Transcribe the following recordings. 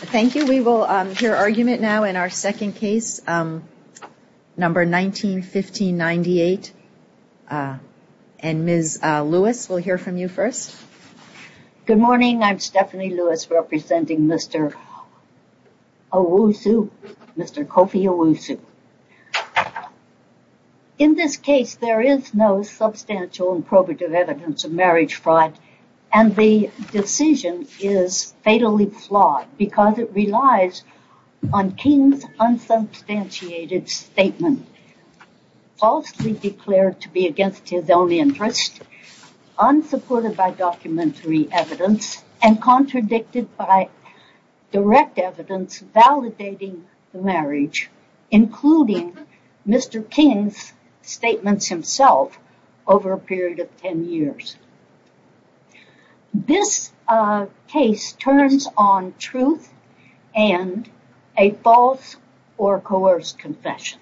Thank you, we will hear argument now in our second case, number 19-15-98, and Ms. Lewis will hear from you first. Good morning, I'm Stephanie Lewis representing Mr. Owusu, Mr. Kofi Owusu. In this case there is no substantial and probative evidence of marriage because it relies on King's unsubstantiated statement, falsely declared to be against his own interest, unsupported by documentary evidence, and contradicted by direct evidence validating the marriage, including Mr. King's statements himself over a period of 10 years. This case turns on truth and a false or coerced confession.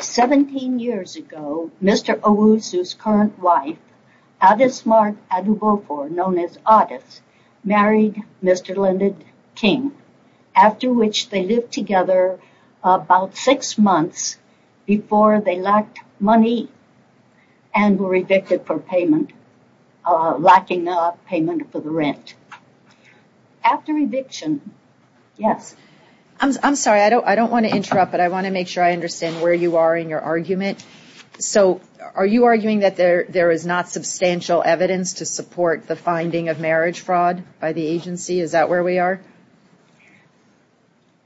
Seventeen years ago, Mr. Owusu's current wife, Addis Mark Adubofor, known as Addis, married Mr. Lyndon King, after which they lived together about six months before they lacked money and were evicted for lacking payment for the rent. After eviction, yes? I'm sorry, I don't want to interrupt, but I want to make sure I understand where you are in your argument. So, are you arguing that there is not substantial evidence to support the finding of marriage fraud by the agency? Is that where we are?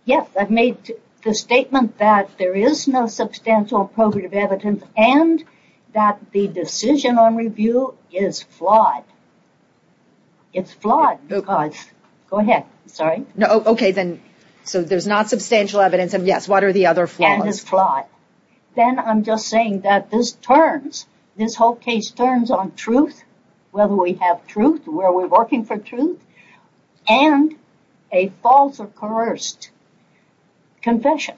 Yes, I've made the statement that there is no substantial and probative evidence and that the decision on review is flawed. It's flawed because, go ahead, sorry. No, okay then, so there's not substantial evidence and yes, what are the other flaws? And it's flawed. Then I'm just saying that this turns, this whole case turns on truth, whether we have truth, where we're working for truth, and a false or coerced confession.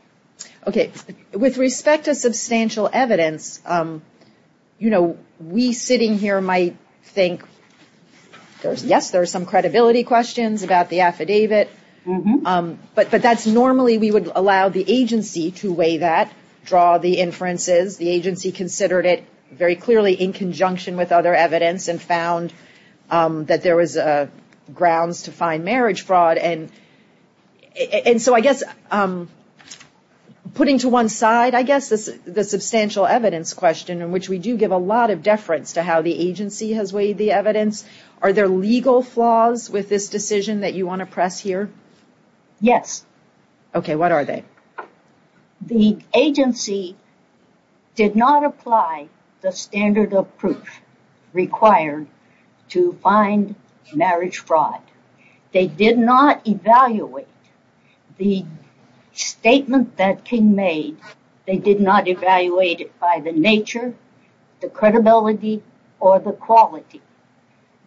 Okay, with respect to substantial evidence, you know, we sitting here might think, yes, there are some credibility questions about the affidavit, but that's normally we would allow the agency to weigh that, draw the inferences, the agency considered it very clearly in conjunction with other evidence and found that there was grounds to find marriage fraud. And so, I guess, putting to one side, I guess, this is the substantial evidence question in which we do give a lot of deference to how the agency has weighed the evidence. Are there legal flaws with this decision that you want to press here? Yes. Okay, what are they? The agency did not apply the standard of proof required to find marriage fraud. They did not evaluate the statement that King made. They did not evaluate it by the nature, the credibility, or the quality.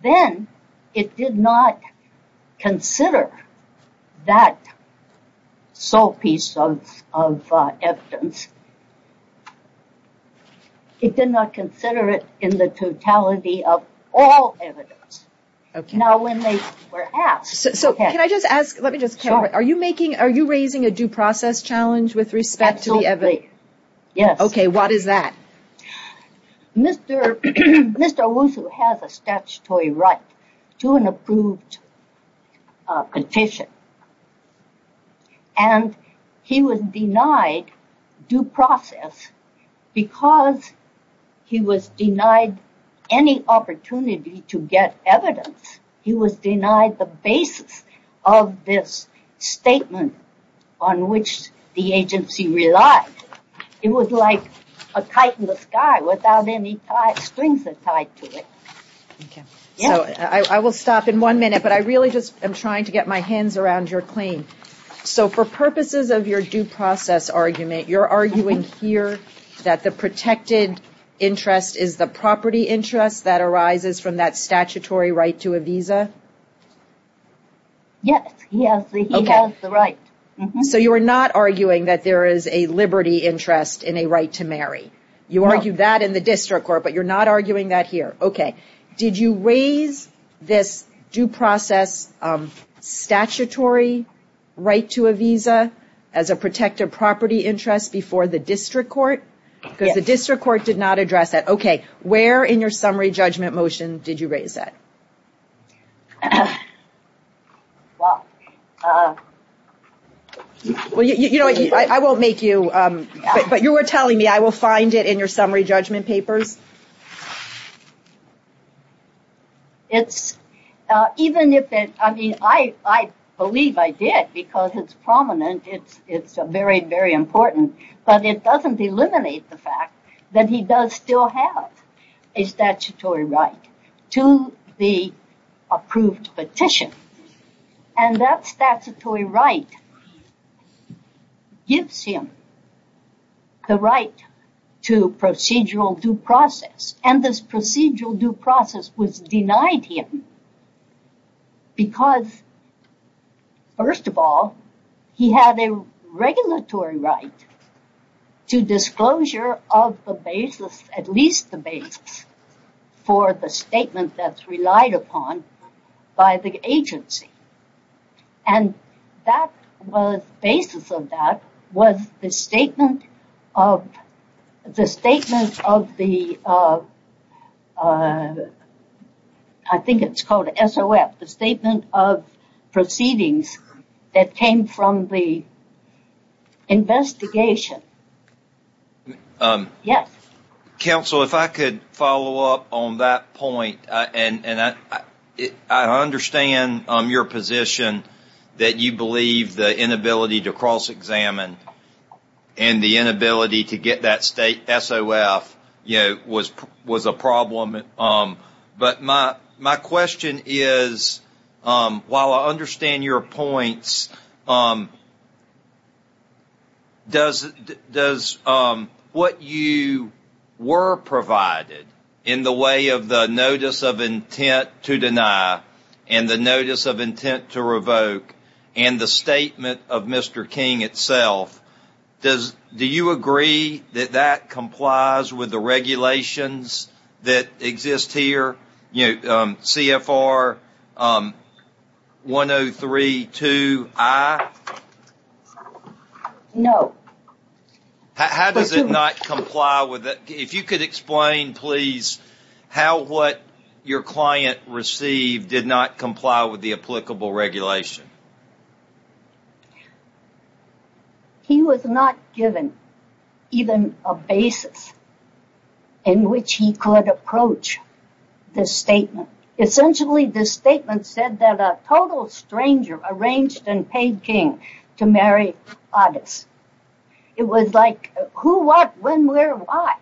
Then, it did not consider that sole piece of evidence. It did not consider it in the totality of all evidence. Now, when they were asked. So, can I just ask, let me just, are you making, are you raising a due process challenge with respect to the evidence? Yes. Okay, what is that? Mr. Owusu has a statutory right to an approved petition and he was denied due process because he was denied any opportunity to get evidence. He was denied the basis of this statement on which the agency relied. It was like a kite in the sky without any strings tied to it. So, I will stop in one minute, but I really just am trying to get my hands around your claim. So, for purposes of your due process argument, you're arguing here that the protected interest is the property interest that arises from that statutory right to a visa? Yes, he has the right. So, you are not arguing that there is a liberty interest in a right to marry. You argue that in the district court, but you're not arguing that here. Okay, did you raise this due process statutory right to a visa as a protected property interest before the district court? Because the district court did not address that. Okay, where in your summary motion did you raise that? Well, you know, I won't make you, but you were telling me I will find it in your summary judgment papers. It's, even if it, I mean, I believe I did because it's prominent. It's very, very important, but it doesn't eliminate the fact that he does still have a statutory right to the approved petition, and that statutory right gives him the right to procedural due process, and this procedural due process was denied him because, first of all, he had a regulatory right to disclosure of the basis, at least the basis, for the statement that's relied upon by the agency, and that was, the basis of that was the statement of the, I think it's called SOF, the statement of proceedings that came from the investigation. Yes. Counsel, if I could follow up on that point, and I understand your position that you believe the inability to cross while I understand your points, does what you were provided in the way of the notice of intent to deny and the notice of intent to revoke and the statement of Mr. King itself, does, do you agree that that complies with the regulations that exist here, you know, CFR 103.2i? No. How does it not comply with it? If you could explain, please, how what your client received did not comply with the applicable regulation. He was not given even a basis in which he could approach the statement. Essentially, the statement said that a total stranger arranged and paid King to marry August. It was like who, what, when, where, why?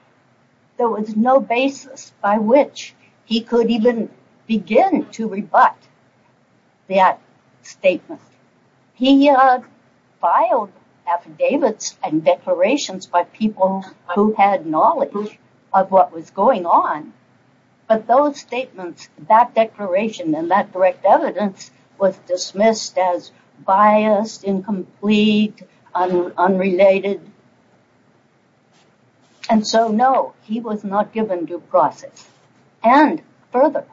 There was no basis by which he could even begin to rebut that statement. He filed affidavits and declarations by people who had knowledge of what was going on, but those statements, that declaration and that direct evidence was dismissed as biased, incomplete, unrelated. And so no, he was not given due process. And further,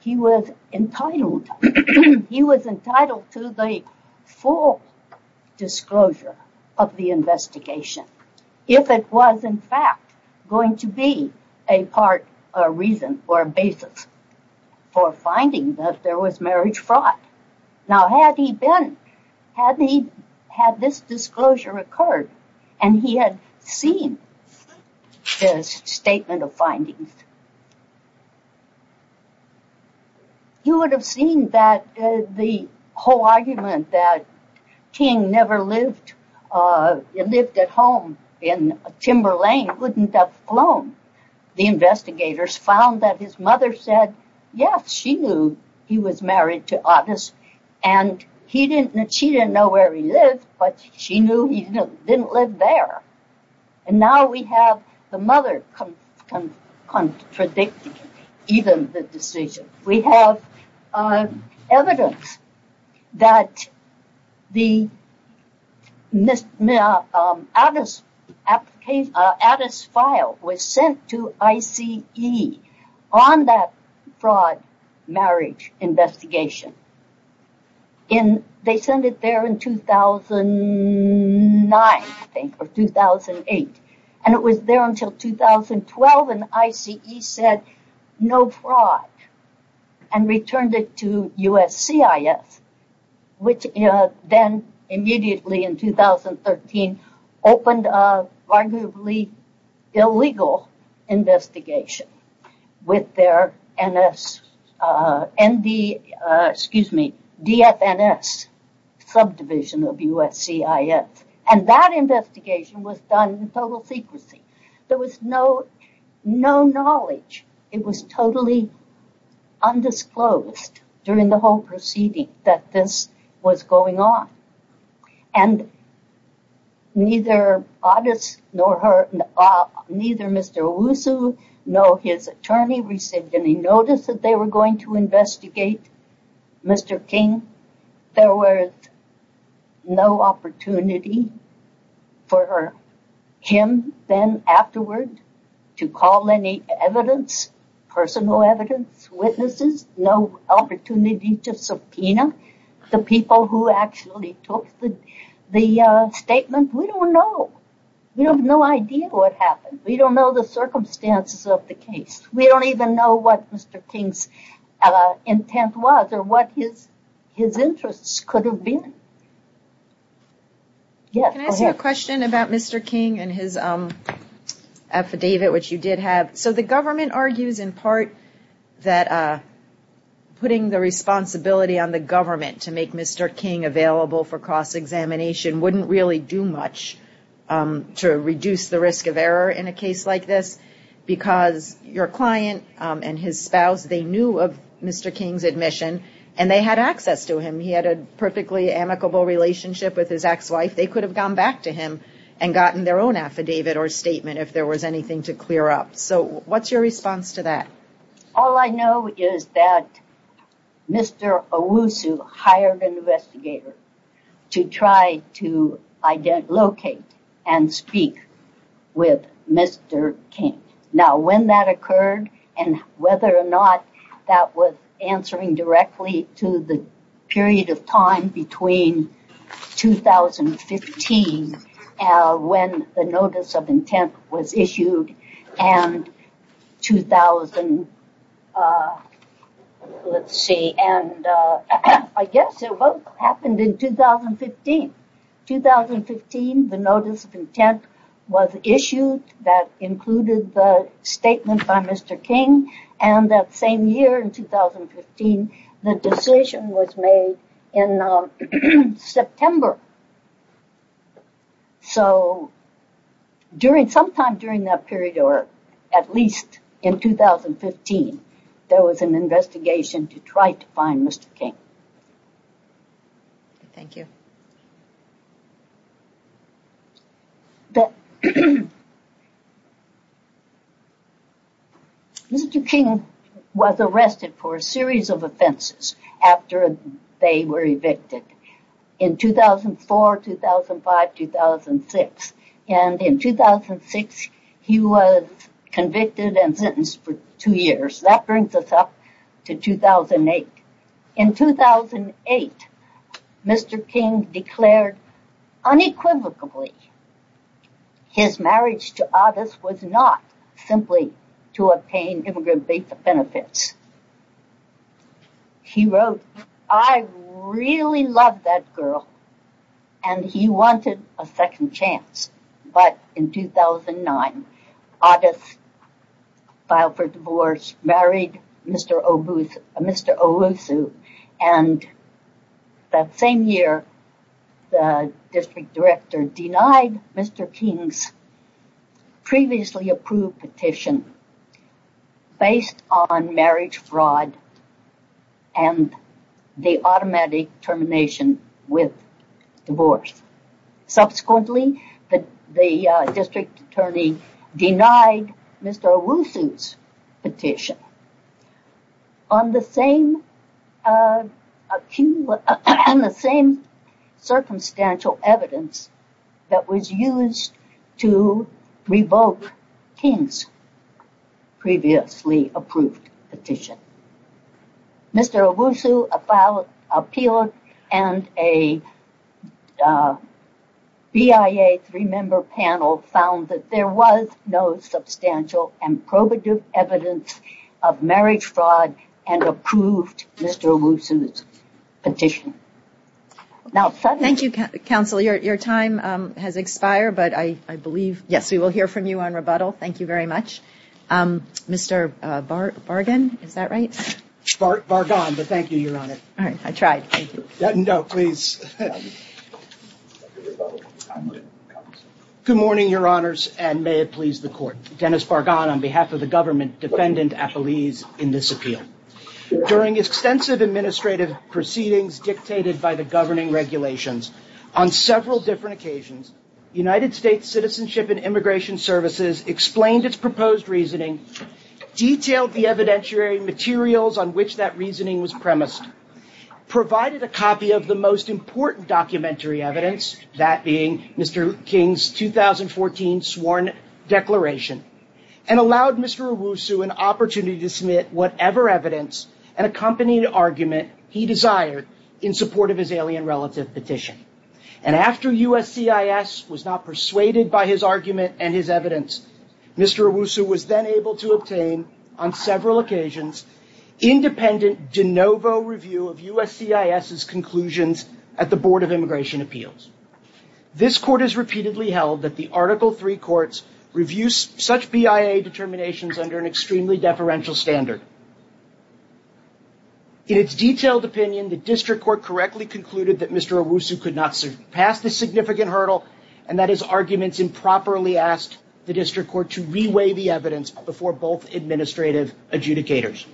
he was entitled, he was entitled to the full disclosure of the investigation. If it was in fact going to be a part, a reason, or a basis for finding that there was marriage fraud. Now, had he been, had he had this disclosure occurred and he had seen this statement of findings, you would have seen that the whole argument that King never lived, lived at home in Timber Lane wouldn't have flown. The investigators found that his mother said, yes, she knew he was married to August and he didn't, she didn't know where he lived, but she knew he didn't live there. And now we have the mother contradicting even the decision. We have evidence that the Addis file was sent to ICE on that fraud marriage investigation. They sent it there in 2009, I think, or 2008. And it was there until 2012 and ICE said, no fraud and returned it to USCIS, which then immediately in 2013, opened a arguably illegal investigation with their NS, ND, excuse me, DFNS subdivision of USCIS. And that investigation was done in total secrecy. There was no, no knowledge. It was totally undisclosed during the whole proceeding that this was going on. And neither Addis nor her, neither Mr. Owusu nor his attorney received any notice that they were going to investigate Mr. King. There was no opportunity for him then afterward to call any evidence, personal evidence, witnesses, no opportunity to subpoena the people who actually took the, the statement. We don't know. We have no idea what happened. We don't know the circumstances of the case. We don't even know what Mr. King's intent was or what his interests could have been. Can I ask you a question about Mr. King and his affidavit, which you did have? So the government argues in part that putting the responsibility on the government to make Mr. King available for cross-examination wouldn't really do much to reduce the risk of error in a case like this because your client and his spouse, they knew of Mr. King's admission and they had access to him. He had a perfectly amicable relationship with his ex-wife. They could have gone back to him and gotten their own affidavit or statement if there was anything to clear up. So what's your response to that? All I know is that Mr. Owusu hired an investigator to try to locate and speak with Mr. King. Now when that occurred and whether or not that was answering directly to the period of time between 2015 when the notice of intent was issued and 2015, the notice of intent was issued that included the statement by Mr. King and that same year in 2015, the decision was made in September. So sometime during that period, or at least in 2015, there was an investigation to try to find Mr. King. Thank you. Mr. King was arrested for a series of offenses after they were evicted. In 2015, 2004, 2005, 2006. And in 2006, he was convicted and sentenced for two years. That brings us up to 2008. In 2008, Mr. King declared unequivocally his marriage to Otis was not simply to obtain benefits. He wrote, I really love that girl. And he wanted a second chance. But in 2009, Otis filed for divorce, married Mr. Owusu. And that same year, the district director denied Mr. King's previously approved petition based on marriage fraud and the automatic termination with divorce. Subsequently, the district attorney denied Mr. Owusu's petition. On the same, on the same circumstantial evidence that was used to revoke King's previously approved petition. Mr. Owusu appealed and a BIA three-member panel found that there was no substantial and probative evidence of marriage fraud and approved Mr. Owusu's petition. Thank you, counsel. Your time has expired, but I believe, yes, we will hear from you on rebuttal. Thank you very much. Mr. Bargan, is that right? Bargan, but thank you, Your Honor. All right. I tried. No, please. Good morning, Your Honors, and may it please the court. Dennis Bargan on behalf of the government, defendant Apollese in this appeal. During extensive administrative proceedings dictated by the governing regulations on several different occasions, United States Citizenship and Immigration Services explained its proposed reasoning, detailed the evidentiary materials on which that reasoning was premised, provided a copy of the most important documentary evidence, that being Mr. King's 2014 sworn declaration, and allowed Mr. Owusu an opportunity to submit whatever evidence and accompanied argument he desired in support of his alien relative petition. And after USCIS was not persuaded by his argument and his evidence, Mr. Owusu was then able to obtain on several occasions independent de novo review of USCIS's conclusions at the Board of Immigration Appeals. This court has repeatedly held that the Article 3 courts review such BIA determinations under an extremely deferential standard. In its detailed opinion, the district court correctly concluded that Mr. Owusu could not pass this significant hurdle and that his arguments improperly asked the district court to reweigh the evidence before both administrative adjudicators.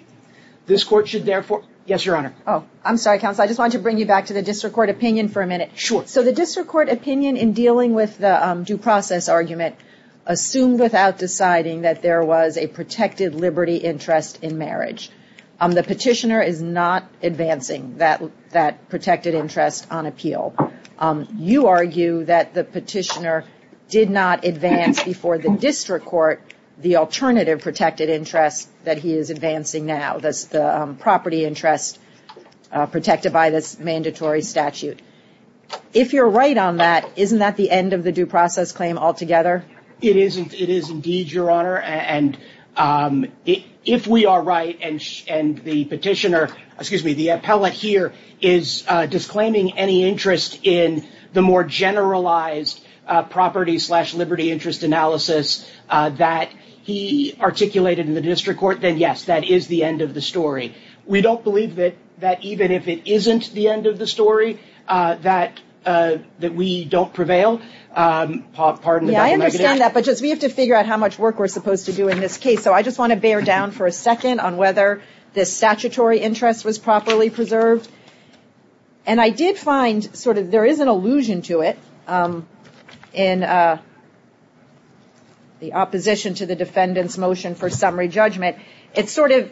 This court should therefore, yes, your honor. Oh, I'm sorry, counsel. I just want to bring you back to the district court opinion for a minute. Sure. So the district court opinion in dealing with the due process argument assumed without deciding that there was a protected liberty interest in marriage. The petitioner is not advancing that protected interest on appeal. You argue that the petitioner did not advance before the district court the alternative protected interest that he is advancing now, that's the property interest protected by this mandatory statute. If you're right on that, isn't that the end of the due process claim altogether? It is indeed, your honor. And if we are right and the petitioner, excuse me, the appellate here is disclaiming any interest in the more generalized property slash liberty interest analysis that he articulated in the district court, then yes, that is the end of the story. We don't believe that even if it isn't the end of the story, that we don't prevail. Yeah, I understand that, but just we have to figure out how much work we're supposed to do in this case. So I just want to bear down for a second on whether this statutory interest was properly preserved. And I did find sort of there is an allusion to it in the opposition to the defendant's motion for summary judgment. It sort of,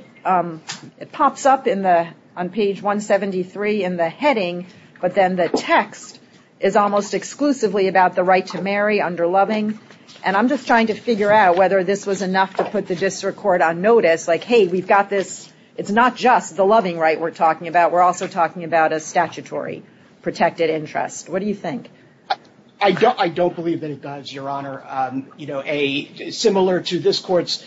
it pops up in the, on page 173 in the heading, but then the text is almost exclusively about the right to marry under loving. And I'm just trying to figure out whether this was enough to put the district court on notice. Like, hey, we've got this, it's not just the loving right we're talking about, we're also talking about a statutory protected interest. What do you think? I don't believe that it does, Your Honor. You know, similar to this court's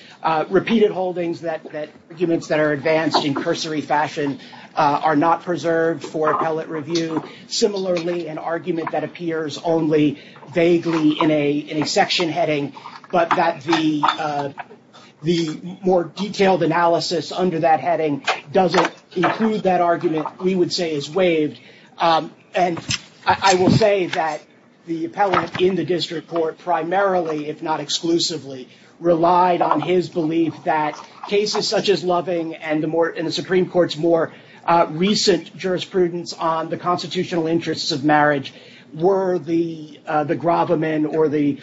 repeated holdings that arguments that are advanced in cursory fashion are not preserved for appellate review. Similarly, an argument that appears only vaguely in a section heading, but that the more detailed analysis under that heading doesn't include that argument, we would say is waived. And I will say that the appellate in the district court primarily, if not exclusively, relied on his belief that cases such as loving and the Supreme Court's more recent jurisprudence on the constitutional interests of marriage were the gravamen or the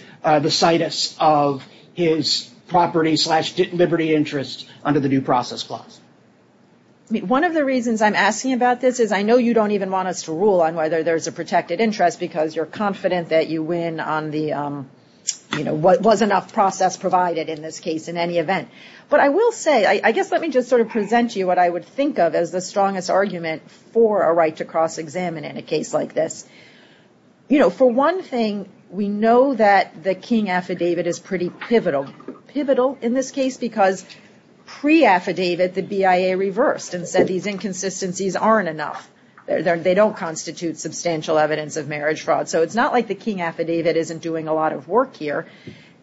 situs of his property slash liberty interests under the new process clause. I mean, one of the reasons I'm asking about this is I know you don't even want us to rule on whether there's a protected interest because you're confident that you win on the, you know, was enough process provided in this case in any event. But I will say, I guess let me just sort of present you what I would think of as the strongest argument for a right to cross-examine in a case like this. You know, for one thing, we know that the King affidavit is pretty pivotal. Pivotal in this case because pre-affidavit, the BIA reversed and said these inconsistencies aren't enough. They don't constitute substantial evidence of marriage fraud. So it's not like the King affidavit isn't doing a lot of work here.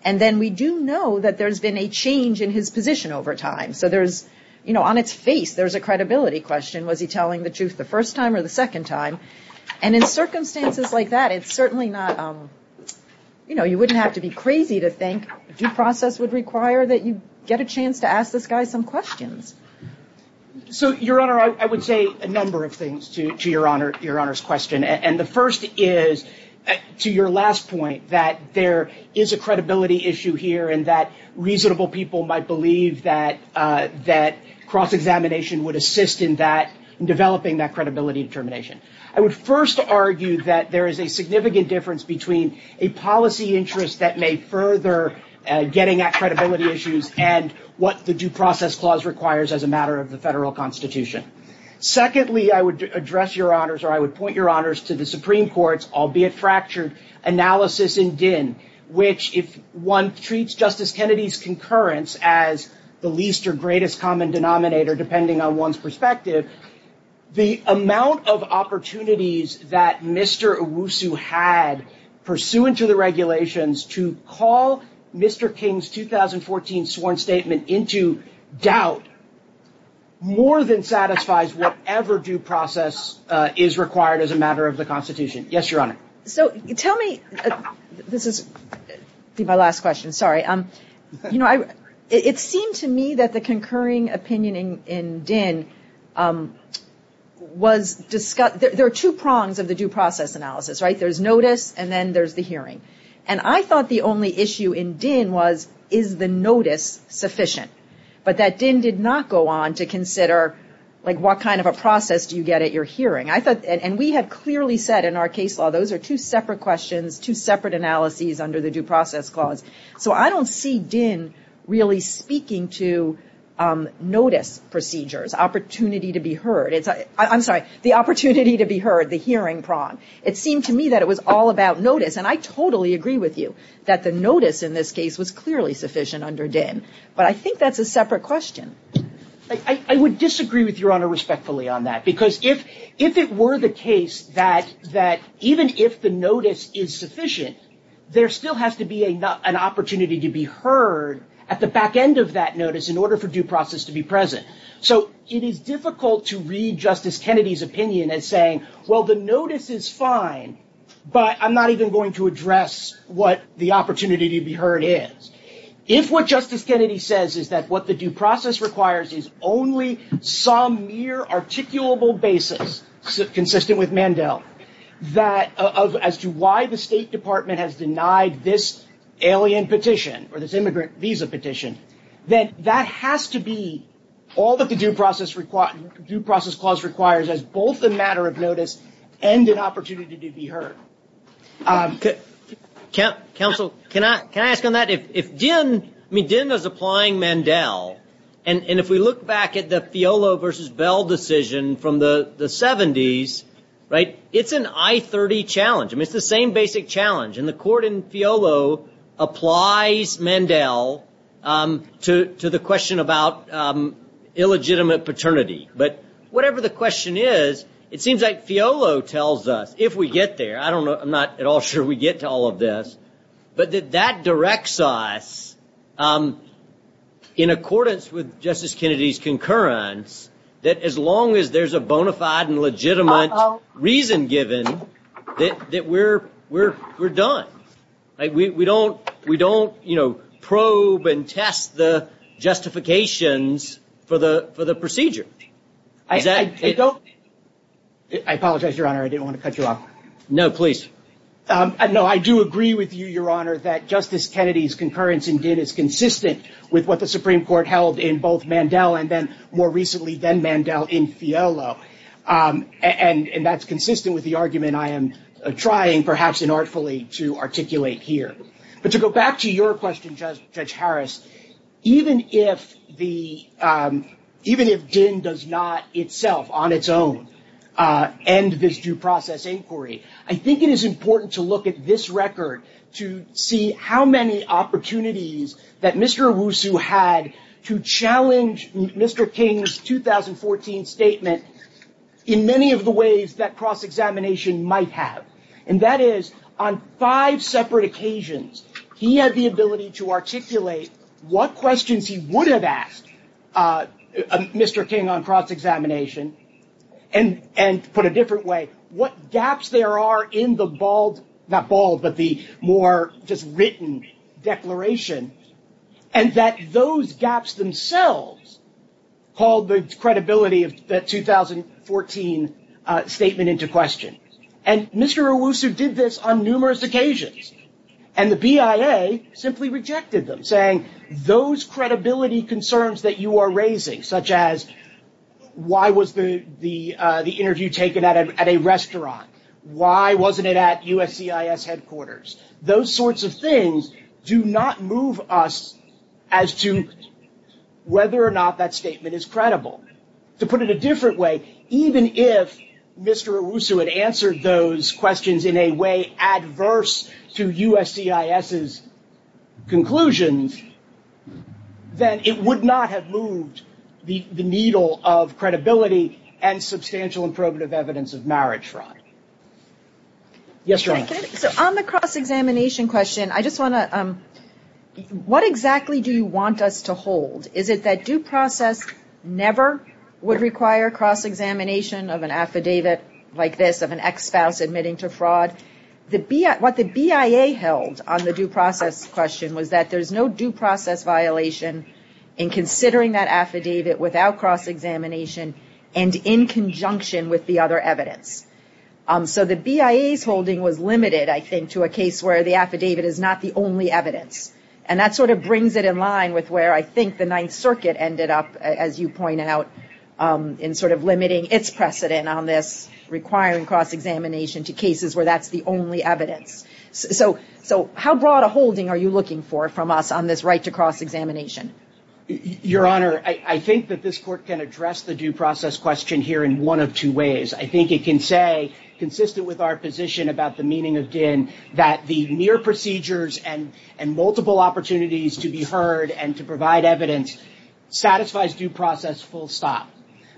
And then we do know that there's been a change in his position over time. So there's, you know, on its face, there's a credibility question. Was he telling the truth the first time or the second time? And in circumstances like that, it's certainly not, you know, you wouldn't have to be crazy to think due process would require that you get a chance to ask this guy some questions. So, Your Honor, I would say a number of things to Your Honor's question. And the first is, to your last point, that there is a credibility issue here and that reasonable people might believe that cross-examination would assist in that, in developing that credibility determination. I would first argue that there is a significant difference between a policy interest that may further getting at credibility issues and what the due process clause requires as a matter of the federal constitution. Secondly, I would address Your Honors, or I would point Your Honors to the Supreme Court's, albeit fractured, analysis in Din, which if one treats Justice Kennedy's concurrence as the least or least credible one's perspective, the amount of opportunities that Mr. Owusu had pursuant to the regulations to call Mr. King's 2014 sworn statement into doubt, more than satisfies whatever due process is required as a matter of the constitution. Yes, Your Honor. So, tell me, this is my last question, sorry. You know, it seemed to me that the concurring opinion in Din was, there are two prongs of the due process analysis, right? There's notice and then there's the hearing. And I thought the only issue in Din was, is the notice sufficient? But that Din did not go on to consider, like, what kind of a process do you get at your hearing? I thought, and we have clearly said in our case law, those are two separate questions, two separate analyses under the due process clause. So I don't see Din really speaking to notice procedures, opportunity to be heard. I'm sorry, the opportunity to be heard, the hearing prong. It seemed to me that it was all about notice. And I totally agree with you that the notice in this case was clearly sufficient under Din. But I think that's a separate question. I would disagree with Your Honor respectfully on that. Because if it were the case that even if the notice is sufficient, there still has to be an opportunity to be heard at the back end of that notice in order for due process to be present. So it is difficult to read Justice Kennedy's opinion as saying, well, the notice is fine, but I'm not even going to address what the opportunity to be heard is. If what Justice Kennedy says is that what the due process requires is only some mere articulable basis consistent with Mandel as to why the State Department has denied this alien petition or this immigrant visa petition, then that has to be all that the due process clause requires as both a matter of notice and an opportunity to be heard. Okay. Counsel, can I ask on that? If Din, I mean, Din is applying Mandel. And if we look back at the Fiolo versus Bell decision from the 70s, right, it's an I-30 challenge. I mean, it's the same basic challenge. And the court in Fiolo applies Mandel to the question about illegitimate paternity. But whatever the question is, it seems like Fiolo tells us, if we get there, I don't I'm not at all sure we get to all of this, but that that directs us in accordance with Justice Kennedy's concurrence that as long as there's a bona fide and legitimate reason given that we're done. We don't probe and test the justifications for the procedure. I apologize, Your Honor. I didn't want to cut you off. No, please. No, I do agree with you, Your Honor, that Justice Kennedy's concurrence in Din is consistent with what the Supreme Court held in both Mandel and then more recently than Mandel in Fiolo. And that's consistent with the argument I am trying, perhaps inartfully, to articulate here. But to go back to your question, Judge Harris, even if the even if Din does not itself on its own end this due process inquiry, I think it is important to look at this record to see how many opportunities that Mr. Owusu had to challenge Mr. King's 2014 statement in many of the ways that cross-examination might have. And that is on five separate occasions, he had the ability to articulate what questions he would have asked Mr. King on cross-examination and put a different way what gaps there are in the bald, not bald, but the more just written declaration. And that those gaps themselves called the credibility of that 2014 statement into question. And Mr. Owusu did this on numerous occasions. And the BIA simply rejected them saying those credibility concerns that you are raising, such as why was the interview taken at a restaurant? Why wasn't it at USCIS headquarters? Those sorts of things do not move us as to whether or not that statement is credible. To put it a different way, even if Mr. Owusu had answered those questions in a way adverse to USCIS's conclusions, then it would not have moved the needle of credibility and substantial and probative evidence of marriage fraud. Yes, Your Honor. So on the cross-examination question, I just want to, what exactly do you want us to hold? Is it that due process never would require cross-examination of an affidavit like this of an ex-spouse admitting to fraud? What the BIA held on the due process question was that there's no due process violation in considering that affidavit without cross-examination and in to a case where the affidavit is not the only evidence. And that sort of brings it in line with where I think the Ninth Circuit ended up, as you point out, in sort of limiting its precedent on this requiring cross-examination to cases where that's the only evidence. So how broad a holding are you looking for from us on this right to cross-examination? Your Honor, I think that this court can address the due process question here in one of two ways. I think it can say consistent with our position about the meaning of DIN that the mere procedures and multiple opportunities to be heard and to provide evidence satisfies due process full stop.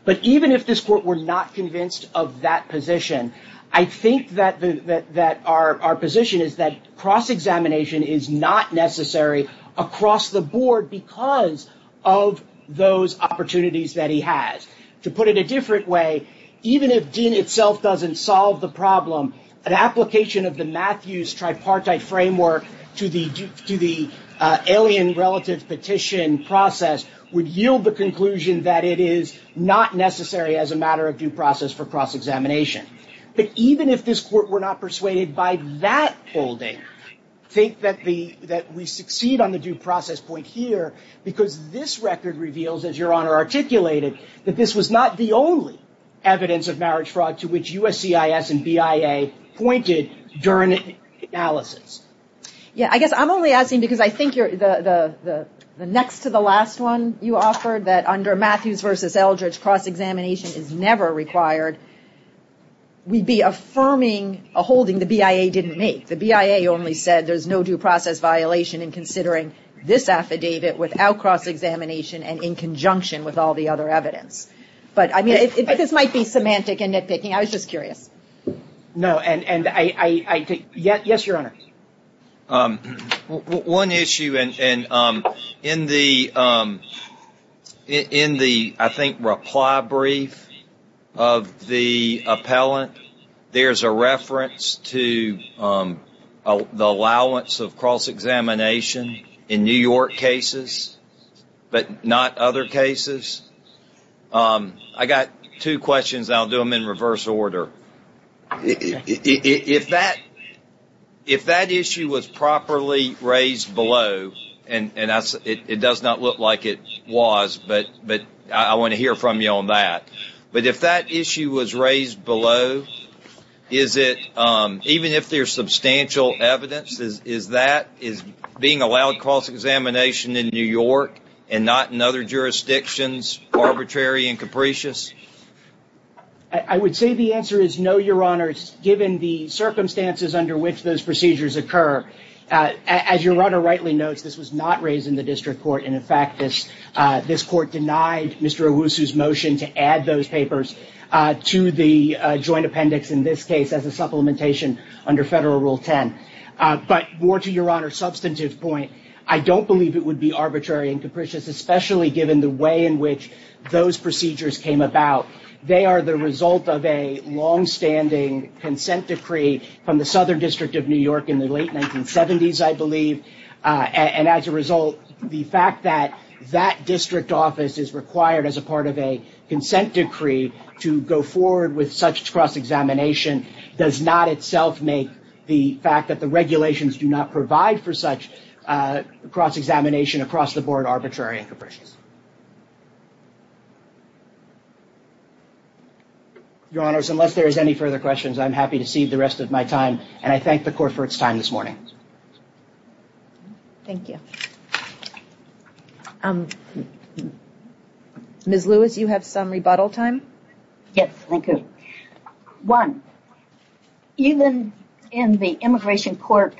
But even if this court were not convinced of that position, I think that our position is that cross-examination is not necessary across the board because of those opportunities that he has. To put it a different way, even if DIN itself doesn't solve the problem, an application of the Matthews tripartite framework to the alien relative petition process would yield the conclusion that it is not necessary as a matter of due process for cross-examination. But even if this court were not persuaded by that holding, I think that we succeed on the due process point here because this record reveals, as Your Honor articulated, that this was not the only evidence of marriage fraud to which USCIS and BIA pointed during analysis. Yeah, I guess I'm only asking because I think the next to the last one you offered that under Matthews versus Eldridge cross-examination is never required, we'd be affirming a holding the BIA didn't make. The BIA only said there's no due process violation in considering this affidavit without cross-examination and in conjunction with all the other evidence. But I mean, this might be semantic and nitpicking, I was just curious. No, and yes, Your Honor. One issue, and in the I think reply brief of the appellant, there's a reference to the allowance of cross-examination in New York cases, but not other cases. I got two questions, I'll do them in reverse order. If that issue was properly raised below, and it does not look like it was, but I want to hear from you on that. But if that issue was raised below, is it, even if there's substantial evidence, is that, is being allowed cross-examination in New York and not in other jurisdictions arbitrary and capricious? I would say the answer is no, Your Honor, given the circumstances under which those procedures occur. As Your Honor rightly notes, this was not raised in the motion to add those papers to the joint appendix in this case as a supplementation under Federal Rule 10. But more to Your Honor's substantive point, I don't believe it would be arbitrary and capricious, especially given the way in which those procedures came about. They are the result of a long-standing consent decree from the Southern District of New York in the late 1970s, I believe. And as a result, the fact that that district office is required as a part of a consent decree to go forward with such cross-examination does not itself make the fact that the regulations do not provide for such cross-examination across the board arbitrary and capricious. Your Honors, unless there is any further questions, I'm happy to cede the rest of my time and I thank the Court for its time this morning. Thank you. Ms. Lewis, you have some rebuttal time? Yes, thank you. One, even in the Immigration Court,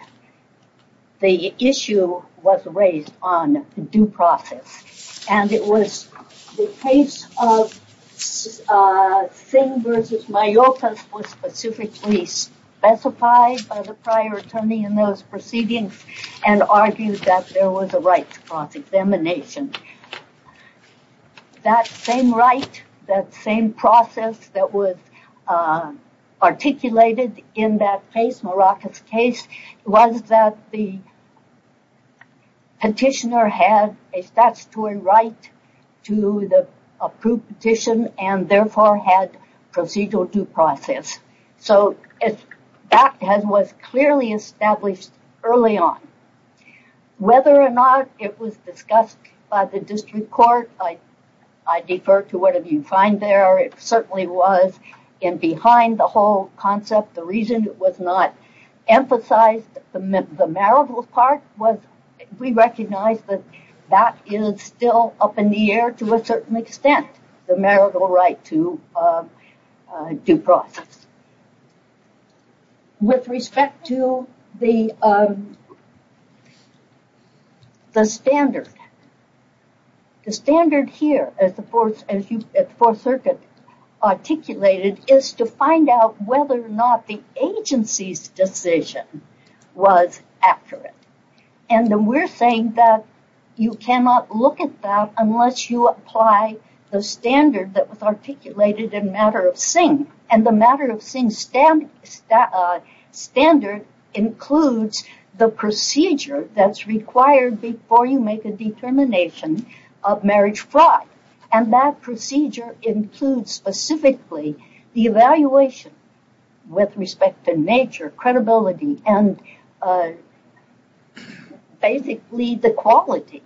the issue was raised on due process and it was the case of Singh v. Mayotas was specifically specified by the prior attorney in those proceedings and argued that there was a right to cross-examination. That same right, that same process that was articulated in that case, Maracas case, was that the petitioner had a statutory right to the approved petition and therefore had procedural due process. So that was clearly established early on. Whether or not it was discussed by the District Court, I defer to whatever you find there, it certainly was in behind the whole concept. The reason it was not emphasized, the marital part, we recognize that is still up in the air to a certain extent, the marital right to due process. With respect to the standard, the standard here at the Fourth Circuit articulated is to find out whether or not the agency's decision was accurate. We are saying that you cannot look at that unless you apply the standard that was articulated in the matter of Singh. The matter of Singh standard includes the procedure that is required before you make a determination of marriage fraud. That procedure includes specifically the evaluation with respect to nature, credibility, and basically the quality.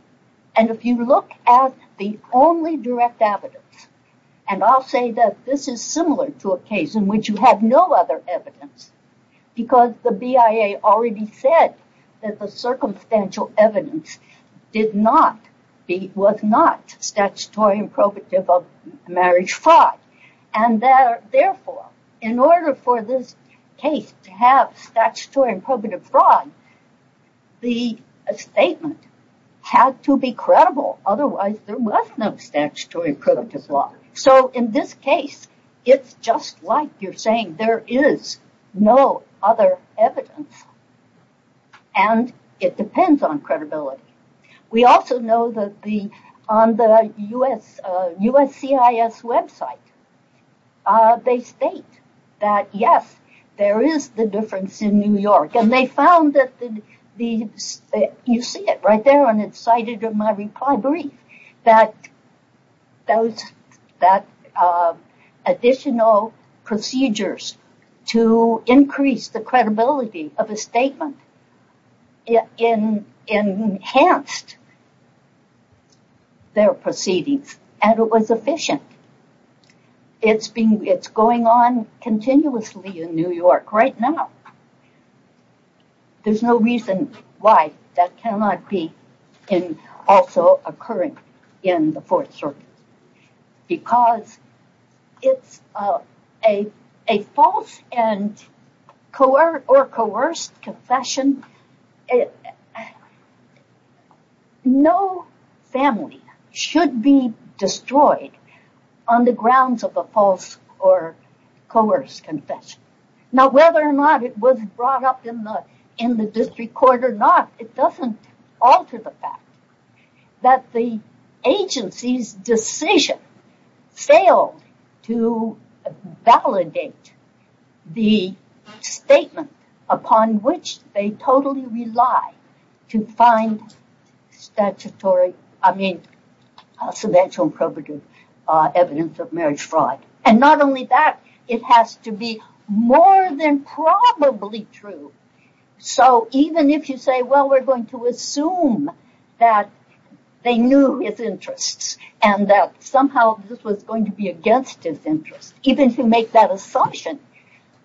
If you look at the only direct evidence, and I'll say that this is similar to a case in which you have no other evidence, because the BIA already said that the circumstantial evidence was not statutory and probative of marriage fraud. Therefore, in order for this case to have statutory and probative fraud, the statement had to be credible. Otherwise, there was no statutory and probative fraud. So in this case, it's just like you're saying there is no other evidence, and it depends on credibility. We also know that on the USCIS website, they state that yes, there is the difference in New York, and they found that the additional procedures to increase the credibility of a statement enhanced their proceedings, and it was efficient. It's going on continuously in New York right now. There is no reason why that cannot be also occurring in the Fourth Circuit, because it's a false or coerced confession. No family should be destroyed on the grounds of a false or coerced confession. Now, whether or not it was brought up in the district court or not, it doesn't alter the fact that the agency's decision failed to validate the statement upon which they totally rely to find statutory, I mean, circumstantial and probative evidence of fraud. And not only that, it has to be more than probably true. So even if you say, well, we're going to assume that they knew his interests, and that somehow this was going to be against his interests, even to make that assumption,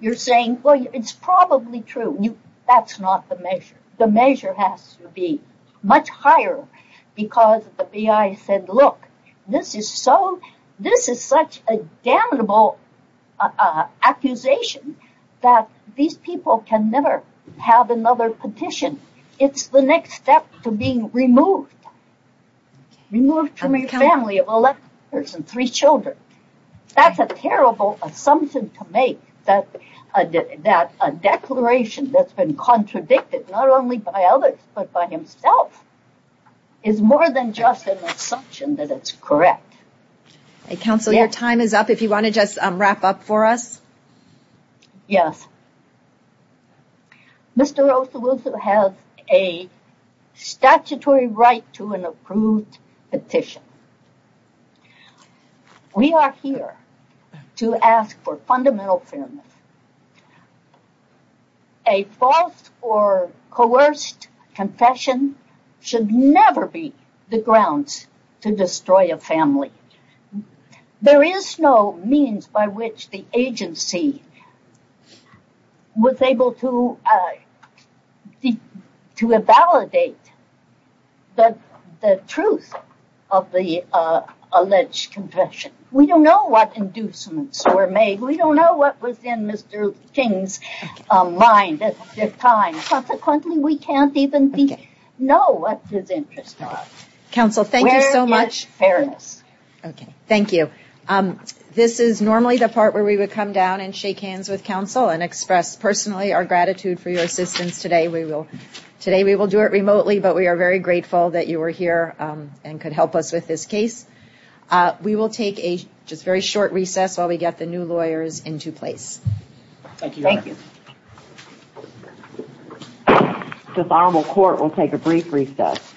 you're saying, well, it's probably true. That's not the measure. The measure has to be much higher, because the BI said, look, this is such a damnable accusation that these people can never have another petition. It's the next step to being removed, removed from a family of three children. That's a terrible assumption to make, that a declaration that's been contradicted not only by others, but by himself, is more than just an assumption that it's correct. Counselor, your time is up. If you want to just wrap up for us. Yes. Mr. Osawusu has a statutory right to an approved petition. We are here to ask for fundamental fairness. A false or coerced confession should never be the grounds to destroy a family. There is no means by which the agency was able to validate the truth of the alleged confession. We don't know what inducements were made. We don't know what was in Mr. Osawusu's or Mr. King's mind at the time. Consequently, we can't even know what his interests are. Counsel, thank you so much. Thank you. This is normally the part where we would come down and shake hands with counsel and express personally our gratitude for your assistance today. Today we will do it remotely, but we are very grateful that you were here and could help us with this case. We will take a very short recess while we get the new lawyers into place. Thank you. The Honorable Court will take a brief recess.